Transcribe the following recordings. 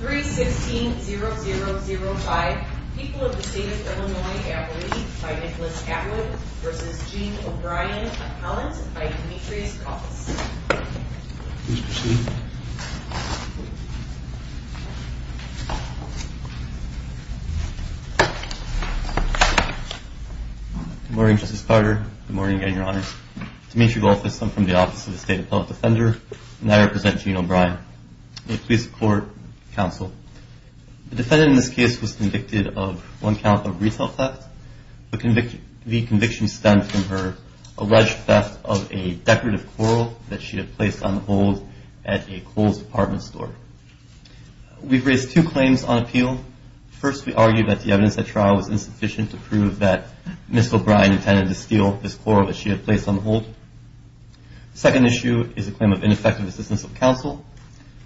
3-16-0005 People of the State of Illinois Appellate by Nicholas Atwood v. Gene O'Brien, Appellant by Demetrius Goldfuss. Please proceed. Good morning, Justice Carter. Good morning again, Your Honor. Demetrius Goldfuss, I'm from the Office of the State Appellate Defender, and I represent Gene O'Brien. May it please the Court, Counsel. The defendant in this case was convicted of one count of retail theft. The conviction stemmed from her alleged theft of a decorative coral that she had placed on hold at a closed department store. We've raised two claims on appeal. First, we argue that the evidence at trial was insufficient to prove that Ms. O'Brien intended to steal this coral that she had placed on hold. The second issue is a claim of ineffective assistance of counsel.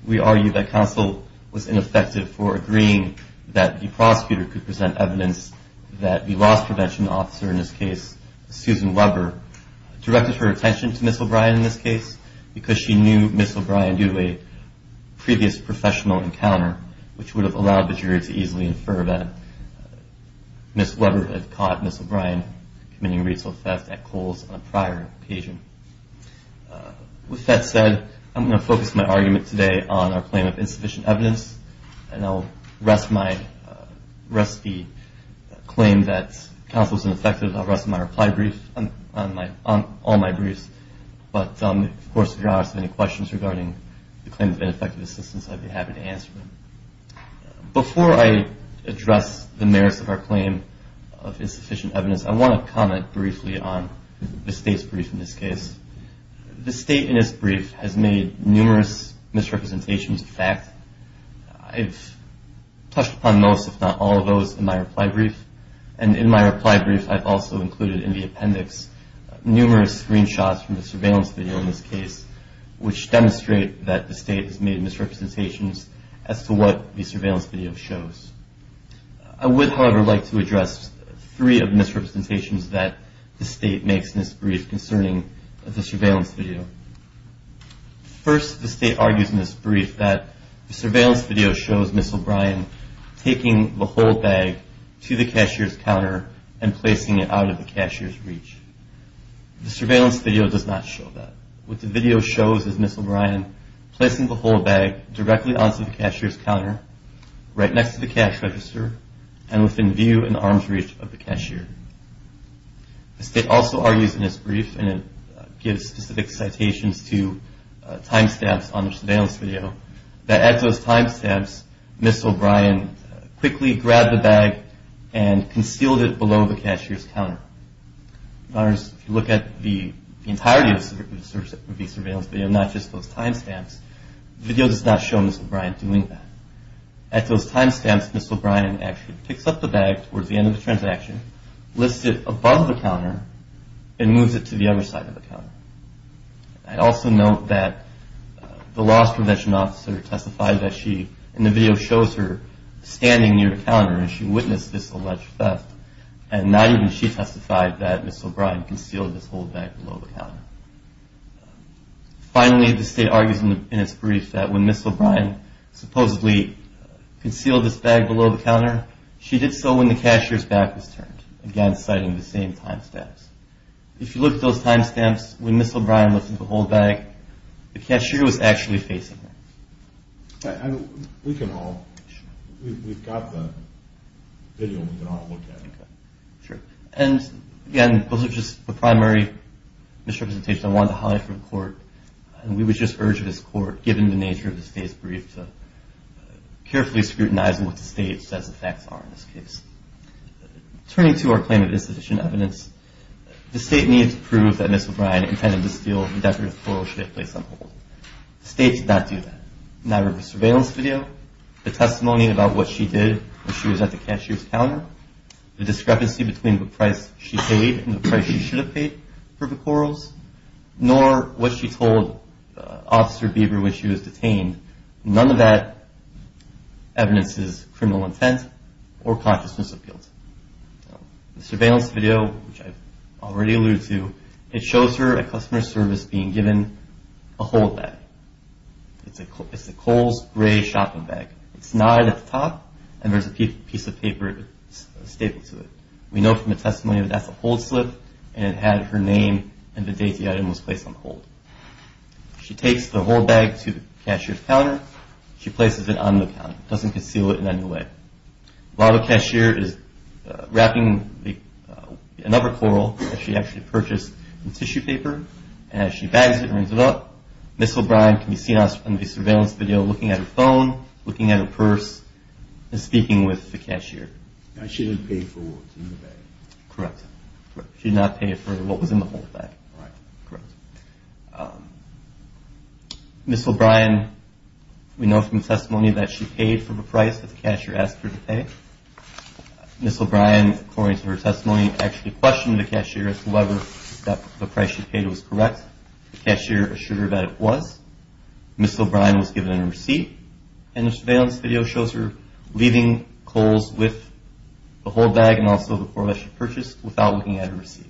We argue that counsel was ineffective for agreeing that the prosecutor could present evidence that the loss prevention officer in this case, Susan Weber, directed her attention to Ms. O'Brien in this case because she knew Ms. O'Brien due to a previous professional encounter, which would have allowed the jury to easily infer that Ms. Weber had caught Ms. O'Brien committing retail theft at Kohl's on a prior occasion. With that said, I'm going to focus my argument today on our claim of insufficient evidence, and I'll rest my claim that counsel was ineffective. I'll rest my reply brief on all my briefs. But of course, if you all have any questions regarding the claim of ineffective assistance, I'd be happy to answer them. Before I address the merits of our claim of insufficient evidence, I want to comment briefly on the state's brief in this case. The state in its brief has made numerous misrepresentations of fact. I've touched upon most, if not all, of those in my reply brief. And in my reply brief, I've also included in the appendix numerous screenshots from the surveillance video in this case, which demonstrate that the state has made misrepresentations as to what the surveillance video shows. I would, however, like to address three of the misrepresentations that the state makes in this brief concerning the surveillance video. First, the state argues in this brief that the surveillance video shows Ms. O'Brien taking the whole bag to the cashier's counter and placing it out of the cashier's reach. The surveillance video does not show that. What the video shows is Ms. O'Brien placing the whole bag directly onto the cashier's counter, right next to the cash register, and within view and arm's reach of the cashier. The state also argues in this brief, and it gives specific citations to timestamps on the surveillance video, that at those timestamps, Ms. O'Brien quickly grabbed the bag and concealed it below the cashier's counter. In other words, if you look at the entirety of the surveillance video, not just those timestamps, the video does not show Ms. O'Brien doing that. At those timestamps, Ms. O'Brien actually picks up the bag towards the end of the transaction, lifts it above the counter, and moves it to the other side of the counter. I'd also note that the loss prevention officer testified that she, in the video, shows her standing near the counter as she witnessed this alleged theft, and not even she testified that Ms. O'Brien concealed this whole bag below the counter. Finally, the state argues in its brief that when Ms. O'Brien supposedly concealed this bag below the counter, she did so when the cashier's back was turned, again citing the same timestamps. If you look at those timestamps, when Ms. O'Brien lifted the whole bag, the cashier was actually facing her. We can all – we've got the video. We can all look at it. Sure. And again, those are just the primary misrepresentations I wanted to highlight for the court. And we would just urge this court, given the nature of the state's brief, to carefully scrutinize what the state says the facts are in this case. Turning to our claim of insufficient evidence, the state needed to prove that Ms. O'Brien intended to steal and the decorative coral she had placed on hold. The state did not do that. Neither the surveillance video, the testimony about what she did when she was at the cashier's counter, the discrepancy between the price she paid and the price she should have paid for the corals, nor what she told Officer Bieber when she was detained. None of that evidence is criminal intent or consciousness appeal. The surveillance video, which I've already alluded to, it shows her at customer service being given a hold bag. It's a Kohl's gray shopping bag. It's knotted at the top, and there's a piece of paper stapled to it. We know from the testimony that that's a hold slip, and it had her name and the date the item was placed on hold. She takes the hold bag to the cashier's counter. She places it on the counter. It doesn't conceal it in any way. While the cashier is wrapping another coral that she actually purchased in tissue paper, and as she bags it and brings it up, Ms. O'Brien can be seen on the surveillance video looking at her phone, looking at her purse, and speaking with the cashier. She didn't pay for what was in the bag. Correct. She did not pay for what was in the hold bag. All right. Correct. Ms. O'Brien, we know from the testimony that she paid for the price that the cashier asked her to pay. Ms. O'Brien, according to her testimony, actually questioned the cashier as to whether the price she paid was correct. The cashier assured her that it was. Ms. O'Brien was given a receipt, and the surveillance video shows her leaving Kohl's with the hold bag and also the coral that she purchased without looking at her receipt.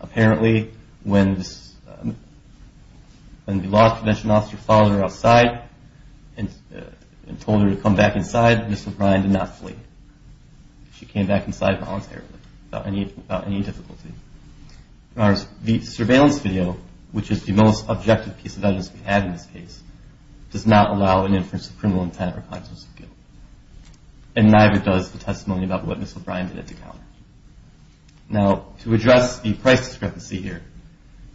Apparently, when the law prevention officer followed her outside and told her to come back inside, Ms. O'Brien did not flee. She came back inside voluntarily without any difficulty. The surveillance video, which is the most objective piece of evidence we have in this case, does not allow an inference of criminal intent or conscience of guilt, and neither does the testimony about what Ms. O'Brien did at the counter. Now, to address the price discrepancy here,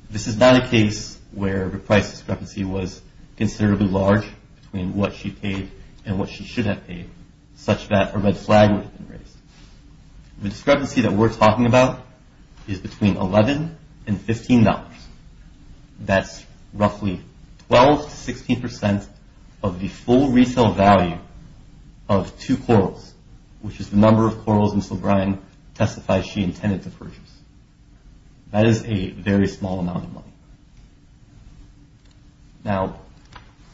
this is not a case where the price discrepancy was considerably large between what she paid and what she should have paid, such that a red flag would have been raised. The discrepancy that we're talking about is between $11 and $15. That's roughly 12 to 16 percent of the full retail value of two corals, which is the number of corals Ms. O'Brien testified she intended to purchase. That is a very small amount of money. Now,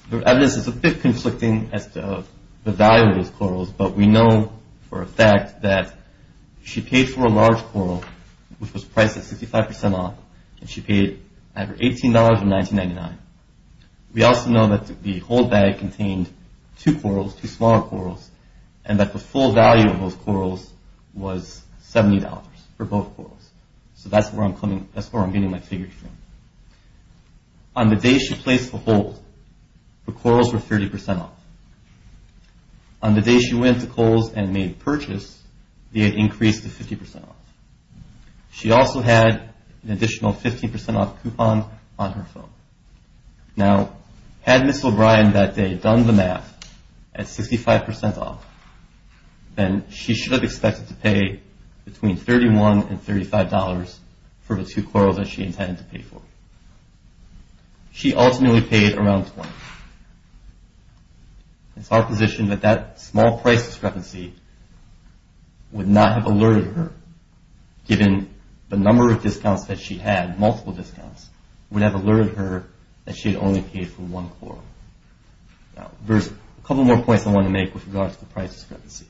the evidence is a bit conflicting as to the value of those corals, but we know for a fact that she paid for a large coral, which was priced at 65 percent off, and she paid $18.99. We also know that the hold bag contained two corals, two smaller corals, and that the full value of those corals was $70 for both corals. So that's where I'm getting my figures from. On the day she placed the hold, the corals were 30 percent off. On the day she went to Kohl's and made the purchase, they had increased to 50 percent off. She also had an additional 15 percent off coupon on her phone. Now, had Ms. O'Brien that day done the math at 65 percent off, then she should have expected to pay between $31 and $35 for the two corals that she intended to pay for. She ultimately paid around $20. It's our position that that small price discrepancy would not have alerted her, given the number of discounts that she had, multiple discounts, would have alerted her that she had only paid for one coral. Now, there's a couple more points I want to make with regards to the price discrepancy.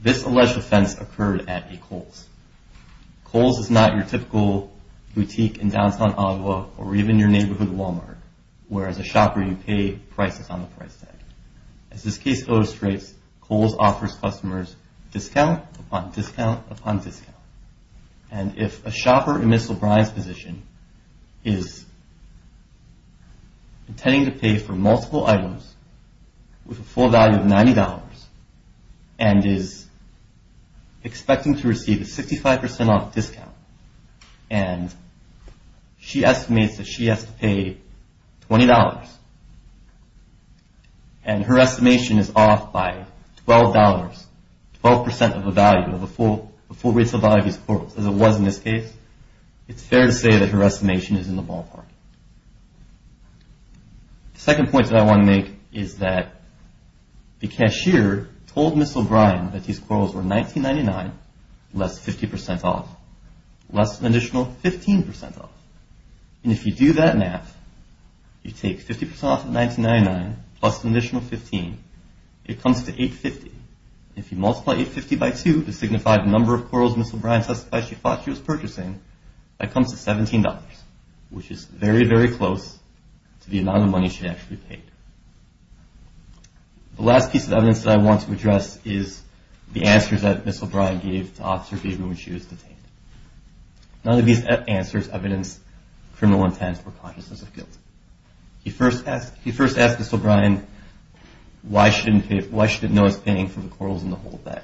This alleged offense occurred at a Kohl's. Kohl's is not your typical boutique in downtown Ottawa or even your neighborhood Walmart, whereas a shopper, you pay prices on the price tag. As this case illustrates, Kohl's offers customers discount upon discount upon discount. And if a shopper in Ms. O'Brien's position is intending to pay for multiple items with a full value of $90 and is expecting to receive a 65 percent off discount, and she estimates that she has to pay $20, and her estimation is off by $12, 12 percent of the value of the full rates of value of these corals, as it was in this case, it's fair to say that her estimation is in the ballpark. The second point that I want to make is that the cashier told Ms. O'Brien that these corals were $19.99, less 50 percent off, less an additional 15 percent off. And if you do that math, you take 50 percent off of $19.99 plus an additional 15, it comes to $8.50. If you multiply $8.50 by 2 to signify the number of corals Ms. O'Brien testified she thought she was purchasing, that comes to $17, which is very, very close to the amount of money she actually paid. The last piece of evidence that I want to address is the answers that Ms. O'Brien gave to Officer Gaber when she was detained. None of these answers evidenced criminal intent or consciousness of guilt. He first asked Ms. O'Brien why she didn't notice paying for the corals in the whole bag.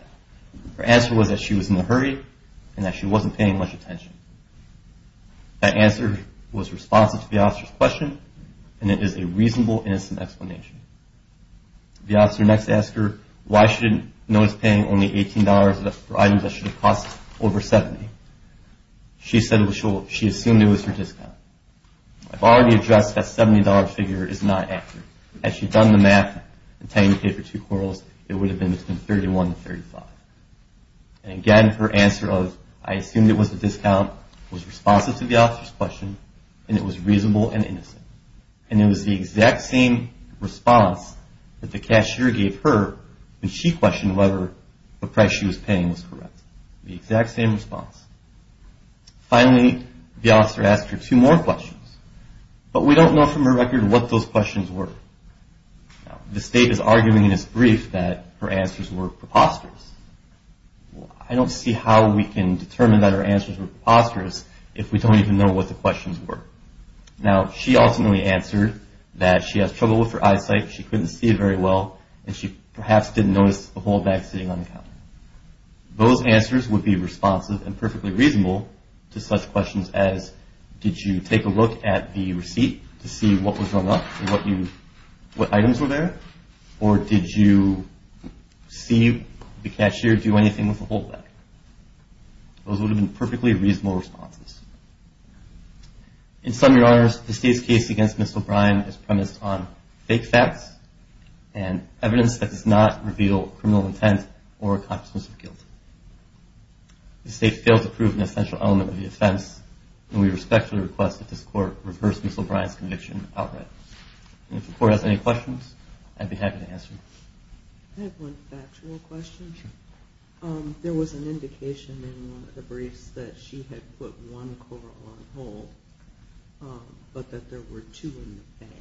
Her answer was that she was in a hurry and that she wasn't paying much attention. That answer was responsive to the officer's question and it is a reasonable, innocent explanation. The officer next asked her why she didn't notice paying only $18 for items that should have cost over $70. She said she assumed it was her discount. I've already addressed that $70 figure is not accurate. Had she done the math and taken the pay for two corals, it would have been between $31 and $35. And again, her answer of I assumed it was a discount was responsive to the officer's question and it was reasonable and innocent. And it was the exact same response that the cashier gave her when she questioned whether the price she was paying was correct. The exact same response. Finally, the officer asked her two more questions, but we don't know from her record what those questions were. The state is arguing in its brief that her answers were preposterous. I don't see how we can determine that her answers were preposterous if we don't even know what the questions were. Now, she ultimately answered that she has trouble with her eyesight, she couldn't see very well, and she perhaps didn't notice the whole bag sitting on the counter. Those answers would be responsive and perfectly reasonable to such questions as did you take a look at the receipt to see what was hung up and what items were there, or did you see the cashier do anything with the whole bag? Those would have been perfectly reasonable responses. In sum, Your Honors, the state's case against Ms. O'Brien is premised on fake facts and evidence that does not reveal criminal intent or a consciousness of guilt. The state fails to prove an essential element of the offense, and we respectfully request that this Court reverse Ms. O'Brien's conviction outright. And if the Court has any questions, I'd be happy to answer them. I have one factual question. Sure. There was an indication in one of the briefs that she had put one coral on hold, but that there were two in the bag.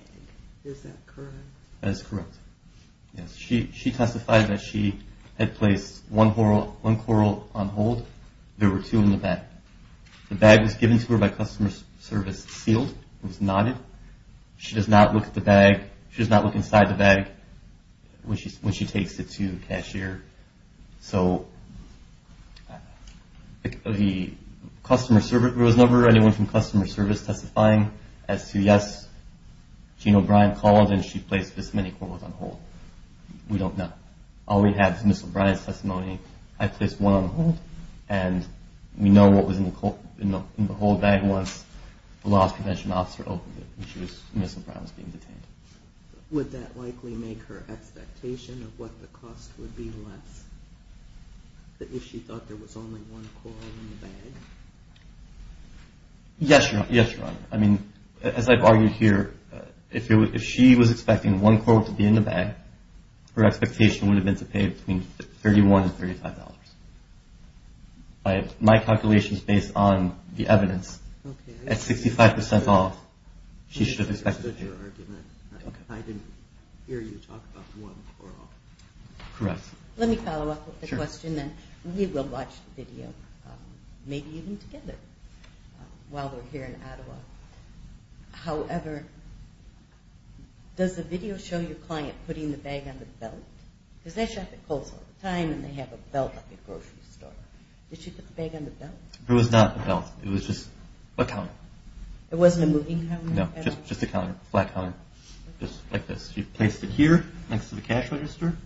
Is that correct? That is correct. She testified that she had placed one coral on hold. There were two in the bag. The bag was given to her by customer service sealed. It was knotted. She does not look at the bag. She does not look inside the bag when she takes it to the cashier. So the customer service number, anyone from customer service testifying as to yes, Jeanne O'Brien called and she placed this many corals on hold. We don't know. All we have is Ms. O'Brien's testimony. I placed one on hold, and we know what was in the hold bag once the loss prevention officer opened it and Ms. O'Brien was being detained. Would that likely make her expectation of what the cost would be less if she thought there was only one coral in the bag? Yes, Your Honor. I mean, as I've argued here, if she was expecting one coral to be in the bag, her expectation would have been to pay between $31 and $35. My calculation is based on the evidence. Okay. At 65% off, she should have expected to pay. I understood your argument. I didn't hear you talk about one coral. Correct. Let me follow up with a question, then. We will watch the video, maybe even together, while we're here in Ottawa. However, does the video show your client putting the bag on the belt? Because they shop at Kohl's all the time, and they have a belt at the grocery store. Did she put the bag on the belt? There was not a belt. It was just a counter. It wasn't a moving counter? No, just a counter, a flat counter, just like this. She placed it here, next to the cash register,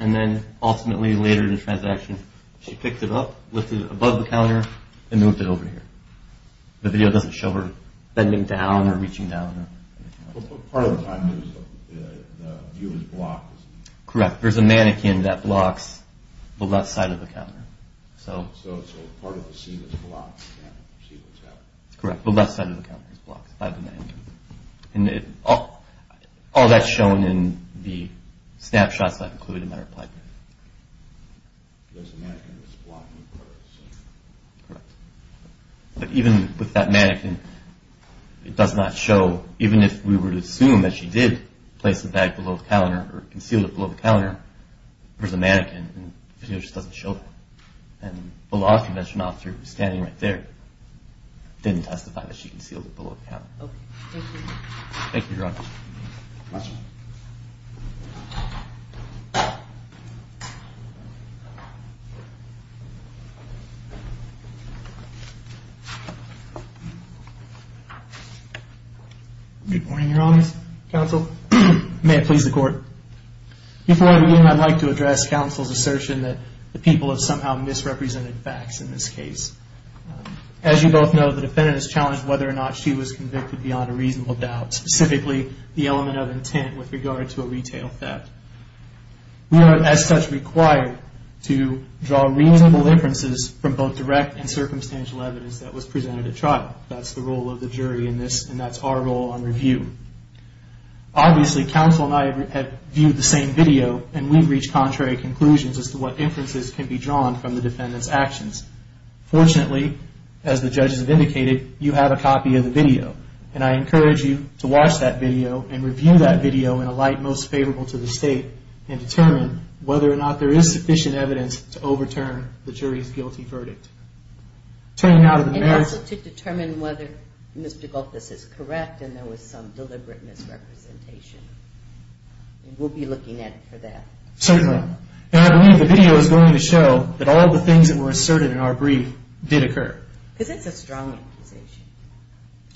and then ultimately, later in the transaction, she picked it up, lifted it above the counter, and moved it over here. The video doesn't show her bending down or reaching down. Part of the time, the view is blocked. There's a mannequin that blocks the left side of the counter. So part of the scene is blocked. You can't see what's happening. Correct. The left side of the counter is blocked by the mannequin. All that's shown in the snapshots that I've included in my reply brief. There's a mannequin that's blocking part of the scene. Correct. But even with that mannequin, it does not show. Even if we were to assume that she did place the bag below the counter, or concealed it below the counter, there's a mannequin. The video just doesn't show that. And the law convention officer, who's standing right there, didn't testify that she concealed it below the counter. Okay. Thank you. Thank you, Your Honor. Question. Good morning, Your Honor's counsel. May it please the Court. Before I begin, I'd like to address counsel's assertion that the people have somehow misrepresented facts in this case. As you both know, the defendant has challenged whether or not she was convicted beyond a reasonable doubt, specifically the element of intent with regard to a retail theft. We are, as such, required to draw reasonable inferences from both direct and circumstantial evidence that was presented at trial. That's the role of the jury in this, and that's our role on review. Obviously, counsel and I have viewed the same video, and we've reached contrary conclusions as to what inferences can be drawn from the defendant's actions. Fortunately, as the judges have indicated, you have a copy of the video, and I encourage you to watch that video and review that video in a light most favorable to the State, and determine whether or not there is sufficient evidence to overturn the jury's guilty verdict. And also to determine whether Ms. Degolfis is correct, and there was some deliberate misrepresentation. We'll be looking at it for that. Certainly. And I believe the video is going to show that all the things that were asserted in our brief did occur. Because it's a strong accusation.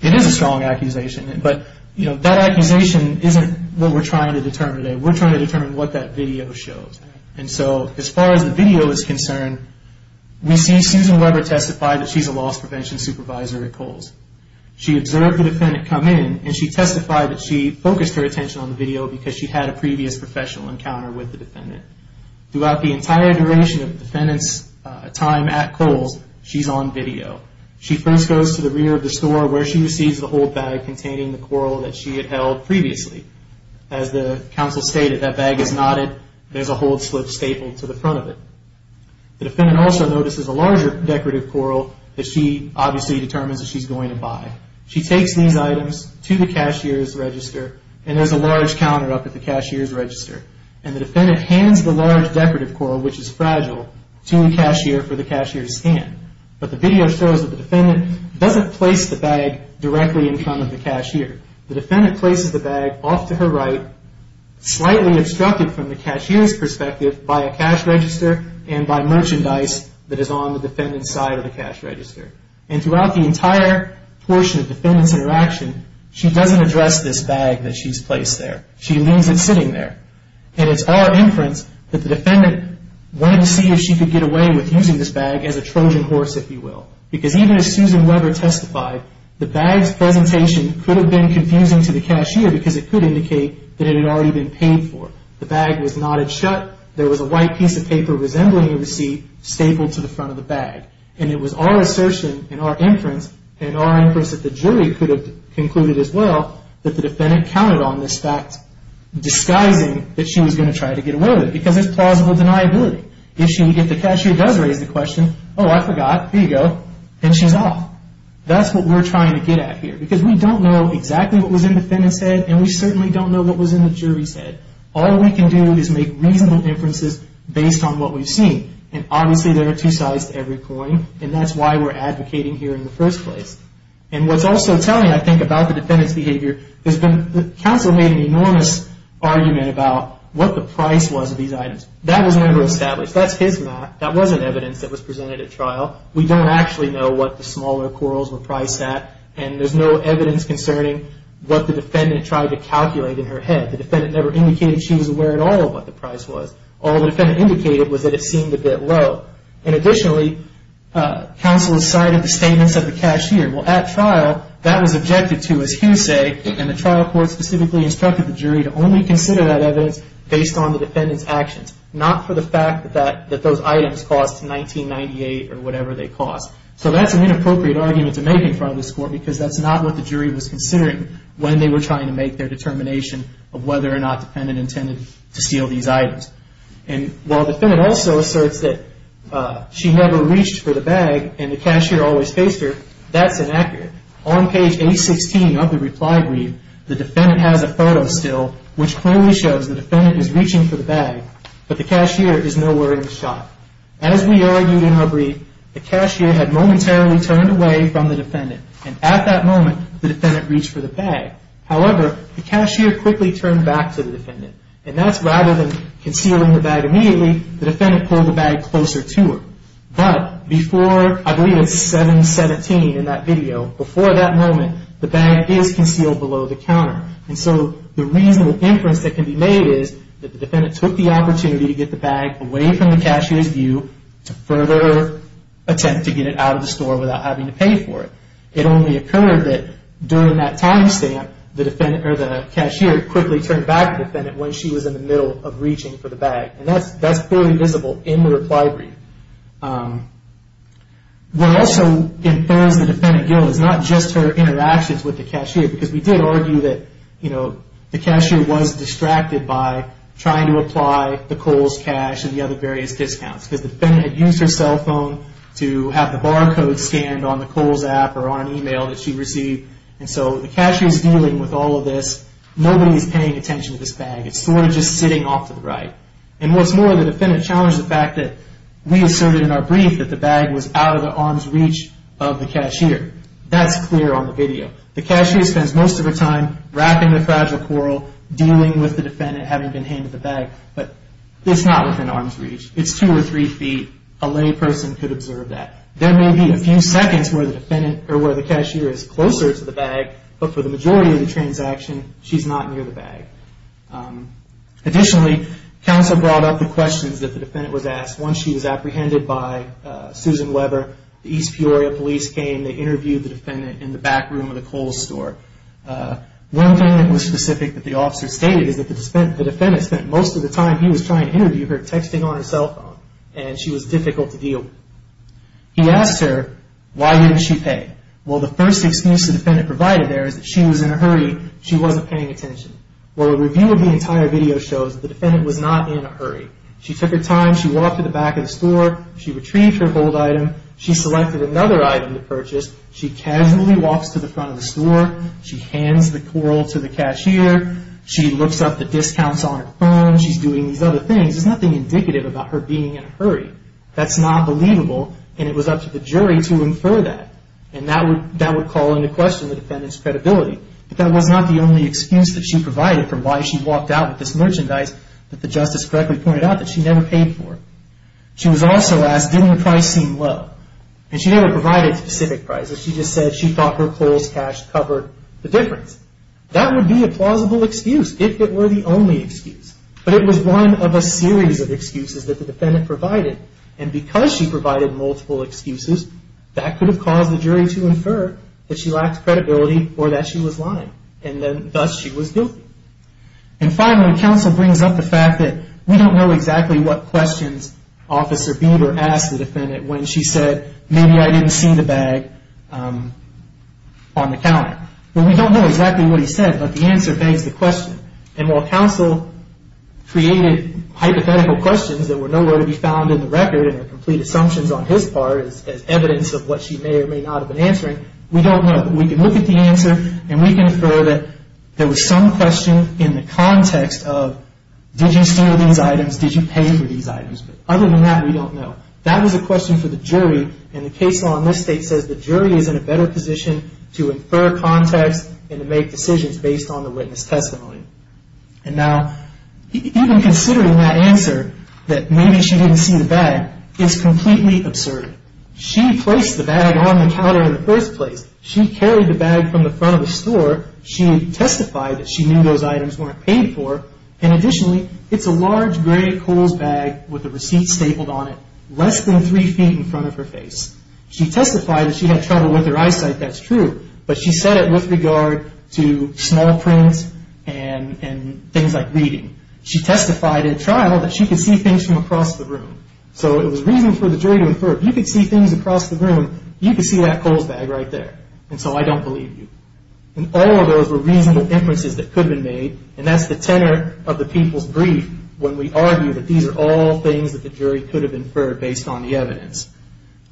It is a strong accusation, but that accusation isn't what we're trying to determine today. We're trying to determine what that video shows. And so, as far as the video is concerned, we see Susan Weber testify that she's a loss prevention supervisor at Kohl's. She observed the defendant come in, and she testified that she focused her attention on the video because she had a previous professional encounter with the defendant. Throughout the entire duration of the defendant's time at Kohl's, she's on video. She first goes to the rear of the store, where she receives the hold bag containing the coral that she had held previously. As the counsel stated, that bag is knotted, there's a hold slip stapled to the front of it. The defendant also notices a larger decorative coral, that she obviously determines that she's going to buy. She takes these items to the cashier's register, and there's a large counter up at the cashier's register. And the defendant hands the large decorative coral, which is fragile, to the cashier for the cashier's hand. But the video shows that the defendant doesn't place the bag directly in front of the cashier. The defendant places the bag off to her right, slightly obstructed from the cashier's perspective by a cash register and by merchandise that is on the defendant's side of the cash register. And throughout the entire portion of the defendant's interaction, she doesn't address this bag that she's placed there. She leaves it sitting there. And it's our inference that the defendant wanted to see if she could get away with using this bag as a Trojan horse, if you will. Because even as Susan Weber testified, the bag's presentation could have been confusing to the cashier, because it could indicate that it had already been paid for. The bag was knotted shut. There was a white piece of paper resembling a receipt stapled to the front of the bag. And it was our assertion and our inference, and our inference that the jury could have concluded as well, that the defendant counted on this fact, disguising that she was going to try to get away with it. Because it's plausible deniability. If the cashier does raise the question, oh, I forgot, here you go, then she's off. That's what we're trying to get at here. Because we don't know exactly what was in the defendant's head, and we certainly don't know what was in the jury's head. All we can do is make reasonable inferences based on what we've seen. And obviously there are two sides to every coin, and that's why we're advocating here in the first place. And what's also telling, I think, about the defendant's behavior, is that the counsel made an enormous argument about what the price was of these items. That was never established. That's his math. That wasn't evidence that was presented at trial. We don't actually know what the smaller quarrels were priced at, and there's no evidence concerning what the defendant tried to calculate in her head. The defendant never indicated she was aware at all of what the price was. All the defendant indicated was that it seemed a bit low. And additionally, counsel cited the statements of the cashier. Well, at trial, that was objected to, as Hugh say, and the trial court specifically instructed the jury to only consider that evidence based on the defendant's actions, not for the fact that those items cost $19.98 or whatever they cost. So that's an inappropriate argument to make in front of this court, because that's not what the jury was considering when they were trying to make their determination of whether or not the defendant intended to steal these items. And while the defendant also asserts that she never reached for the bag and the cashier always faced her, that's inaccurate. On page 816 of the reply brief, the defendant has a photo still, which clearly shows the defendant is reaching for the bag, but the cashier is nowhere in the shot. As we argued in our brief, the cashier had momentarily turned away from the defendant, and at that moment, the defendant reached for the bag. However, the cashier quickly turned back to the defendant, and that's rather than concealing the bag immediately, the defendant pulled the bag closer to her. But before, I believe it's 717 in that video, before that moment, the bag is concealed below the counter. And so the reasonable inference that can be made is that the defendant took the opportunity to get the bag away from the cashier's view to further attempt to get it out of the store without having to pay for it. It only occurred that during that time stamp, the cashier quickly turned back to the defendant when she was in the middle of reaching for the bag. And that's clearly visible in the reply brief. What also infers the defendant guilt is not just her interactions with the cashier, because we did argue that the cashier was distracted by trying to apply the defendant had used her cell phone to have the barcode scanned on Nicole's app or on an email that she received. And so the cashier's dealing with all of this. Nobody's paying attention to this bag. It's sort of just sitting off to the right. And what's more, the defendant challenged the fact that we asserted in our brief that the bag was out of the arm's reach of the cashier. That's clear on the video. The cashier spends most of her time wrapping the fragile coral, dealing with the defendant, having been handed the bag. But it's not within arm's reach. It's two or three feet. A lay person could observe that. There may be a few seconds where the cashier is closer to the bag, but for the majority of the transaction, she's not near the bag. Additionally, counsel brought up the questions that the defendant was asked. Once she was apprehended by Susan Weber, the East Peoria police came. They interviewed the defendant in the back room of the Kohl's store. One thing that was specific that the officer stated is that the defendant spent most of the time he was trying to interview her texting on his cell phone, and she was difficult to deal with. He asked her why didn't she pay. Well, the first excuse the defendant provided there is that she was in a hurry. She wasn't paying attention. Well, a review of the entire video shows the defendant was not in a hurry. She took her time. She walked to the back of the store. She retrieved her gold item. She selected another item to purchase. She casually walks to the front of the store. She hands the coral to the cashier. She looks up the discounts on her phone. She's doing these other things. There's nothing indicative about her being in a hurry. That's not believable, and it was up to the jury to infer that. And that would call into question the defendant's credibility. But that was not the only excuse that she provided for why she walked out with this merchandise that the justice correctly pointed out that she never paid for. She was also asked, didn't the price seem low? And she never provided a specific price. She just said she thought her Kohl's cash covered the difference. That would be a plausible excuse if it were the only excuse. But it was one of a series of excuses that the defendant provided. And because she provided multiple excuses, that could have caused the jury to infer that she lacked credibility or that she was lying, and thus she was guilty. And finally, counsel brings up the fact that we don't know exactly what questions Officer Bieber asked the defendant when she said, maybe I didn't see the bag on the counter. Well, we don't know exactly what he said, but the answer begs the question. And while counsel created hypothetical questions that were nowhere to be found in the record and were complete assumptions on his part as evidence of what she may or may not have been answering, we don't know. We can look at the answer, and we can infer that there was some question in the context of, did you steal these items, did you pay for these items? But other than that, we don't know. That was a question for the jury, and the case law in this state says the jury is in a better position to infer context and to make decisions based on the witness testimony. And now, even considering that answer, that maybe she didn't see the bag, is completely absurd. She placed the bag on the counter in the first place. She carried the bag from the front of the store. She testified that she knew those items weren't paid for. And additionally, it's a large gray Kohl's bag with a receipt stapled on it, less than three feet in front of her face. She testified that she had trouble with her eyesight, that's true, but she said it with regard to small prints and things like reading. She testified in trial that she could see things from across the room. So it was reason for the jury to infer, if you could see things across the room, you could see that Kohl's bag right there, and so I don't believe you. And all of those were reasonable inferences that could have been made, and that's the tenor of the people's brief when we argue that these are all things that the jury could have inferred based on the evidence.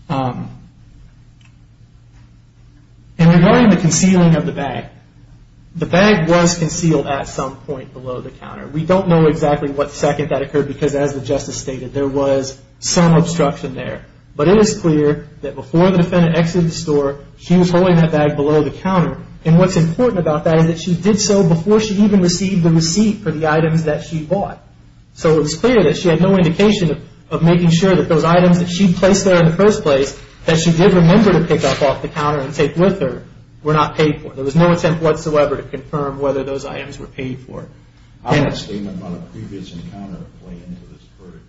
And regarding the concealing of the bag, the bag was concealed at some point below the counter. We don't know exactly what second that occurred because, as the justice stated, there was some obstruction there. But it is clear that before the defendant exited the store, she was holding that bag below the counter. And what's important about that is that she did so before she even received the receipt for the items that she bought. So it was clear that she had no indication of making sure that those items that she placed there in the first place, that she did remember to pick up off the counter and take with her, were not paid for. There was no attempt whatsoever to confirm whether those items were paid for. I have a statement on a previous encounter playing into this verdict.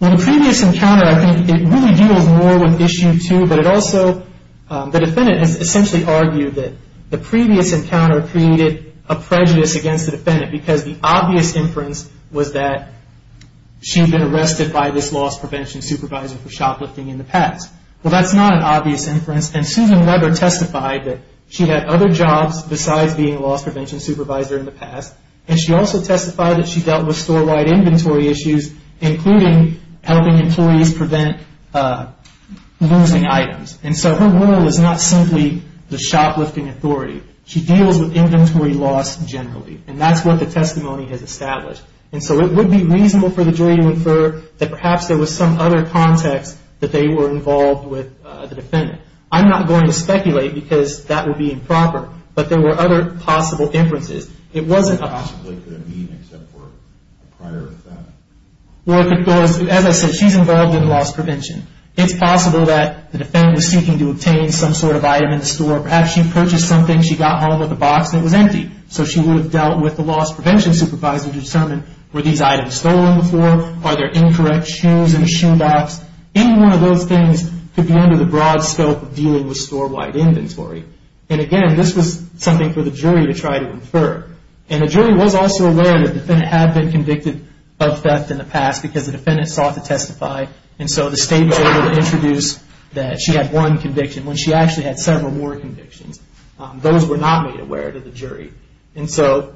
Well, the previous encounter, I think it really deals more with Issue 2, but it also, the defendant has essentially argued that the previous encounter created a prejudice against the defendant because the obvious inference was that she had been arrested by this loss prevention supervisor for shoplifting in the past. Well, that's not an obvious inference. And Susan Weber testified that she had other jobs besides being a loss prevention supervisor in the past. And she also testified that she dealt with store-wide inventory issues, including helping employees prevent losing items. And so her role is not simply the shoplifting authority. She deals with inventory loss generally. And that's what the testimony has established. And so it would be reasonable for the jury to infer that perhaps there was some other context that they were involved with the defendant. I'm not going to speculate because that would be improper, but there were other possible inferences. It wasn't a possibility. It possibly could have been except for a prior offense. Well, as I said, she's involved in loss prevention. It's possible that the defendant was seeking to obtain some sort of item in the store. Perhaps she purchased something, she got home with a box, and it was empty. So she would have dealt with the loss prevention supervisor to determine, were these items stolen before? Are there incorrect shoes in the shoe box? Any one of those things could be under the broad scope of dealing with store-wide inventory. And, again, this was something for the jury to try to infer. And the jury was also aware that the defendant had been convicted of theft in the past because the defendant sought to testify. And so the state was able to introduce that she had one conviction, when she actually had several more convictions. Those were not made aware to the jury. And so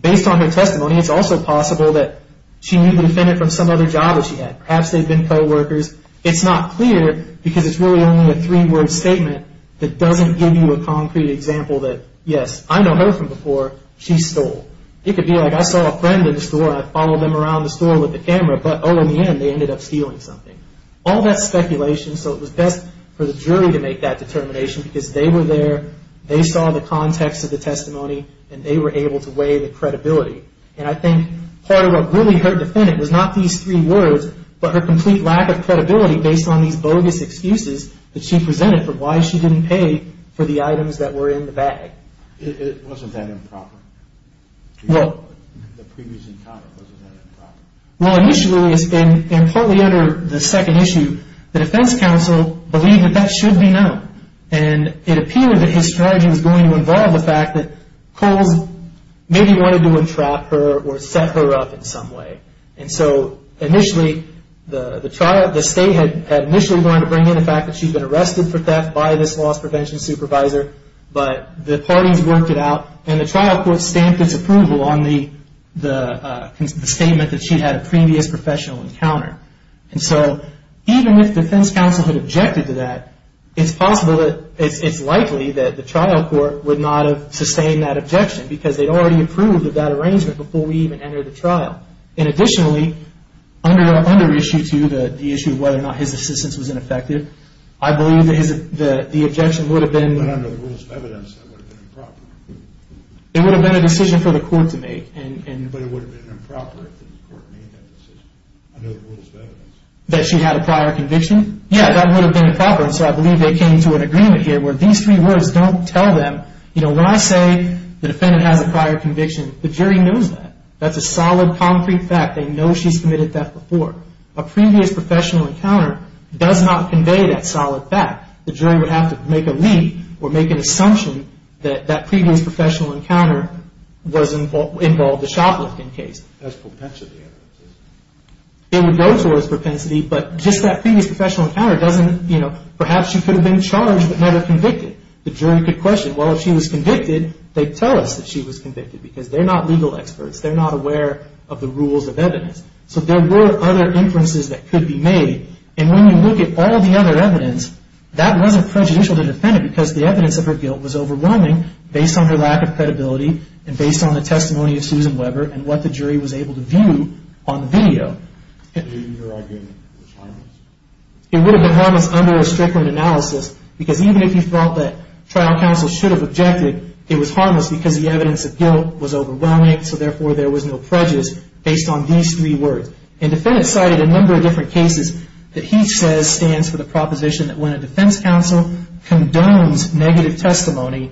based on her testimony, it's also possible that she knew the defendant from some other job that she had. Perhaps they'd been coworkers. It's not clear because it's really only a three-word statement that doesn't give you a concrete example that, yes, I know her from before, she stole. It could be like I saw a friend in the store and I followed them around the store with the camera, but, oh, in the end they ended up stealing something. All that's speculation, so it was best for the jury to make that determination because they were there, they saw the context of the testimony, and they were able to weigh the credibility. And I think part of what really hurt the defendant was not these three words, but her complete lack of credibility based on these bogus excuses that she presented for why she didn't pay for the items that were in the bag. It wasn't that improper. The previous encounter wasn't that improper. Well, initially, and partly under the second issue, the defense counsel believed that that should be known. And it appeared that his strategy was going to involve the fact that Coles maybe wanted to entrap her or set her up in some way. And so initially, the state had initially wanted to bring in the fact that she'd been arrested for theft by this loss prevention supervisor, but the parties worked it out, and the trial court stamped its approval on the statement that she'd had a previous professional encounter. And so even if defense counsel had objected to that, it's possible that it's likely that the trial court would not have sustained that objection because they'd already approved of that arrangement before we even entered the trial. And additionally, under issue two, the issue of whether or not his assistance was ineffective, I believe the objection would have been... But under the rules of evidence, that would have been improper. It would have been a decision for the court to make. But it would have been improper if the court made that decision under the rules of evidence. That she had a prior conviction? Yeah, that would have been improper, and so I believe they came to an agreement here where these three words don't tell them... You know, when I say the defendant has a prior conviction, the jury knows that. That's a solid, concrete fact. They know she's committed theft before. A previous professional encounter does not convey that solid fact. The jury would have to make a leap or make an assumption that that previous professional encounter involved a shoplifting case. That's propensity evidence. It would go towards propensity, but just that previous professional encounter doesn't... You know, perhaps she could have been charged but never convicted. The jury could question, well, if she was convicted, they'd tell us that she was convicted because they're not legal experts. They're not aware of the rules of evidence. So there were other inferences that could be made. And when you look at all the other evidence, that wasn't prejudicial to the defendant because the evidence of her guilt was overwhelming based on her lack of credibility and based on the testimony of Susan Weber and what the jury was able to view on the video. So your argument was harmless? It would have been harmless under a stricter analysis because even if you felt that trial counsel should have objected, it was harmless because the evidence of guilt was overwhelming, so therefore there was no prejudice based on these three words. And the defendant cited a number of different cases that he says stands for the proposition that when a defense counsel condones negative testimony,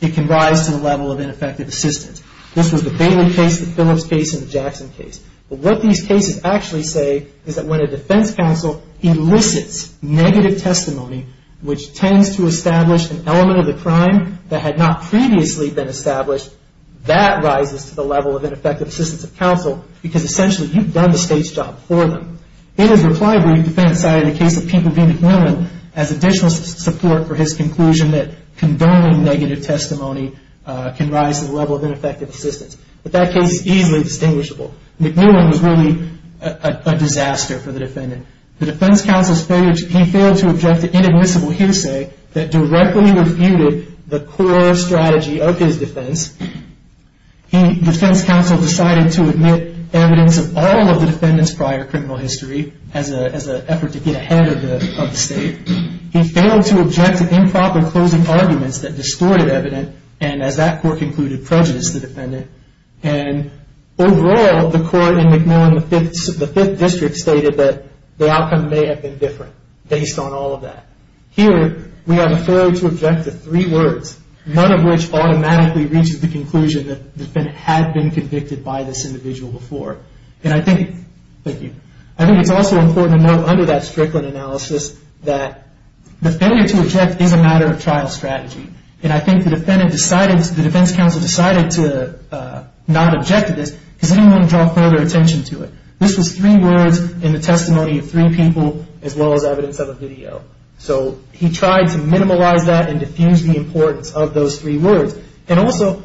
it can rise to the level of ineffective assistance. This was the Bailey case, the Phillips case, and the Jackson case. But what these cases actually say is that when a defense counsel elicits negative testimony, which tends to establish an element of the crime that had not previously been established, that rises to the level of ineffective assistance of counsel because essentially you've done the state's job for them. In his reply brief, the defendant cited the case of Peter B. MacMillan as additional support for his conclusion that condoning negative testimony can rise to the level of ineffective assistance. But that case is easily distinguishable. MacMillan was really a disaster for the defendant. The defense counsel's failure to object to inadmissible hearsay that directly refuted the core strategy of his defense, the defense counsel decided to admit evidence of all of the defendant's prior criminal history as an effort to get ahead of the state. He failed to object to improper closing arguments that distorted evidence and, as that court concluded, prejudiced the defendant. And overall, the court in MacMillan, the Fifth District, stated that the outcome may have been different based on all of that. Here, we have a failure to object to three words, none of which automatically reaches the conclusion that the defendant had been convicted by this individual before. And I think it's also important to note under that Strickland analysis that the failure to object is a matter of trial strategy. And I think the defense counsel decided to not object to this because he didn't want to draw further attention to it. This was three words in the testimony of three people as well as evidence of a video. So he tried to minimize that and diffuse the importance of those three words. And also,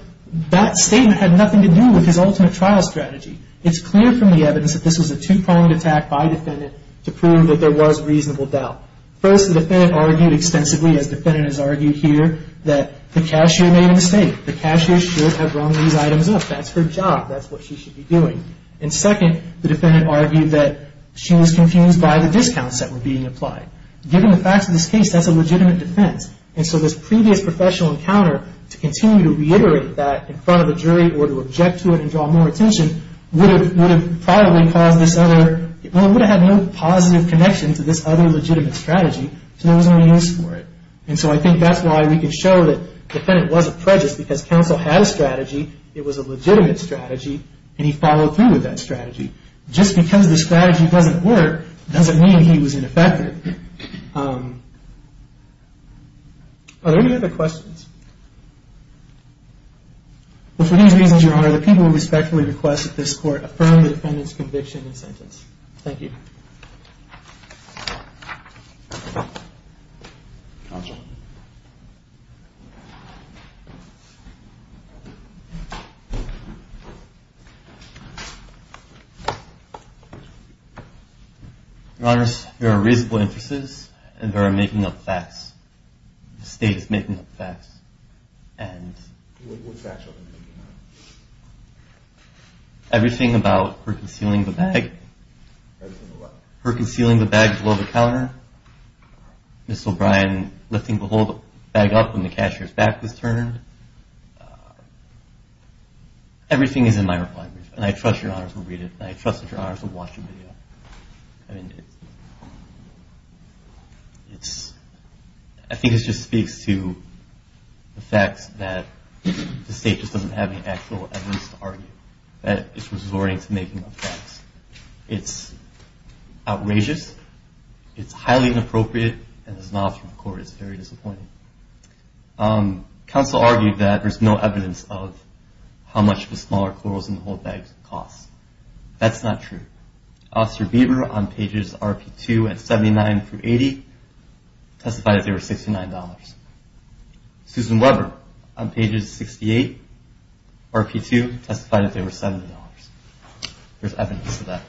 that statement had nothing to do with his ultimate trial strategy. It's clear from the evidence that this was a two-pronged attack by a defendant to prove that there was reasonable doubt. First, the defendant argued extensively, as the defendant has argued here, that the cashier made a mistake. The cashier should have rung these items up. That's her job. That's what she should be doing. And second, the defendant argued that she was confused by the discounts that were being applied. Given the facts of this case, that's a legitimate defense. And so this previous professional encounter, to continue to reiterate that in front of a jury or to object to it and draw more attention, would have had no positive connection to this other legitimate strategy. So there was no use for it. And so I think that's why we can show that the defendant wasn't prejudiced because counsel had a strategy, it was a legitimate strategy, and he followed through with that strategy. Just because the strategy doesn't work doesn't mean he was ineffective. Are there any other questions? Well, for these reasons, Your Honor, the people respectfully request that this Court affirm the defendant's conviction and sentence. Thank you. Thank you. Counsel. Your Honors, there are reasonable inferences and there are making-up facts. The State is making-up facts. What facts are they making-up? Everything about her concealing the bag, her concealing the bag below the counter, Ms. O'Brien lifting the whole bag up when the cashier's back was turned, everything is in my reply brief. And I trust Your Honors will read it and I trust that Your Honors will watch the video. I think it just speaks to the fact that the State just doesn't have any actual evidence to argue, that it's resorting to making-up facts. It's outrageous, it's highly inappropriate, and it's not up to the Court. It's very disappointing. Counsel argued that there's no evidence of how much the smaller corals in the whole bag cost. That's not true. Officer Bieber, on pages RP2 and 79 through 80, testified that they were $69. Susan Weber, on pages 68, RP2, testified that they were $70. There's evidence to that.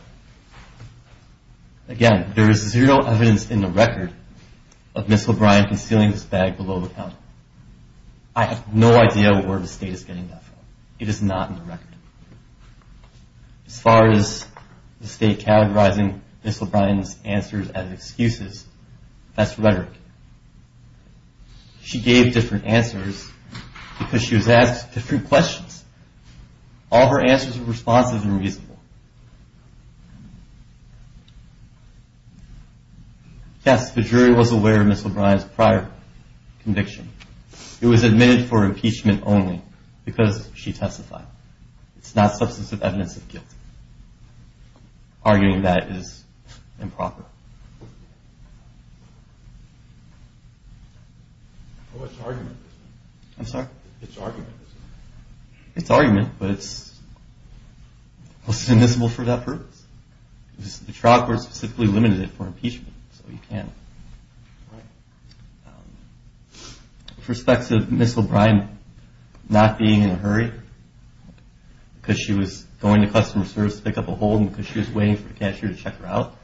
Again, there is zero evidence in the record of Ms. O'Brien concealing this bag below the counter. I have no idea where the State is getting that from. It is not in the record. As far as the State categorizing Ms. O'Brien's answers as excuses, that's rhetoric. She gave different answers because she was asked different questions. All her answers were responsive and reasonable. Yes, the jury was aware of Ms. O'Brien's prior conviction. It was admitted for impeachment only because she testified. It's not substantive evidence of guilt. Arguing that is improper. What's the argument? I'm sorry? What's the argument? It's an argument, but it's not admissible for that purpose. The trial court specifically limited it for impeachment, so you can't. With respect to Ms. O'Brien not being in a hurry, because she was going to customer service to pick up a hold and because she was waiting for the cashier to check her out,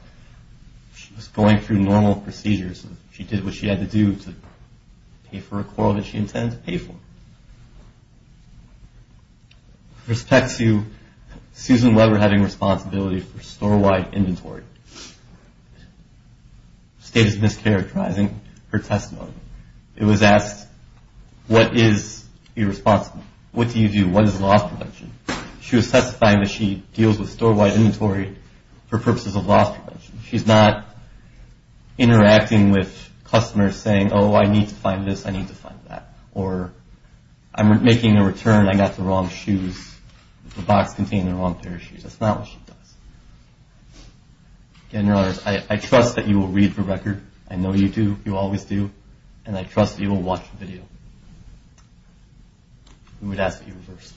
she was going through normal procedures. She did what she had to do to pay for a quarrel that she intended to pay for. With respect to Susan Weber having responsibility for store-wide inventory, the state is mischaracterizing her testimony. It was asked, what is irresponsible? What do you view? What is loss prevention? She was testifying that she deals with store-wide inventory for purposes of loss prevention. She's not interacting with customers saying, oh, I need to find this, I need to find that, or I'm making a return, I got the wrong shoes, the box contained the wrong pair of shoes. That's not what she does. Again, Your Honor, I trust that you will read the record. I know you do. You always do. And I trust that you will watch the video. We would ask that you reverse.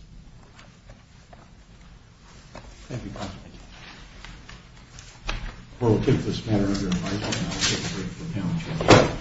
Thank you, counsel. We'll take this matter under advisement, and I'll take a break for panel discussion.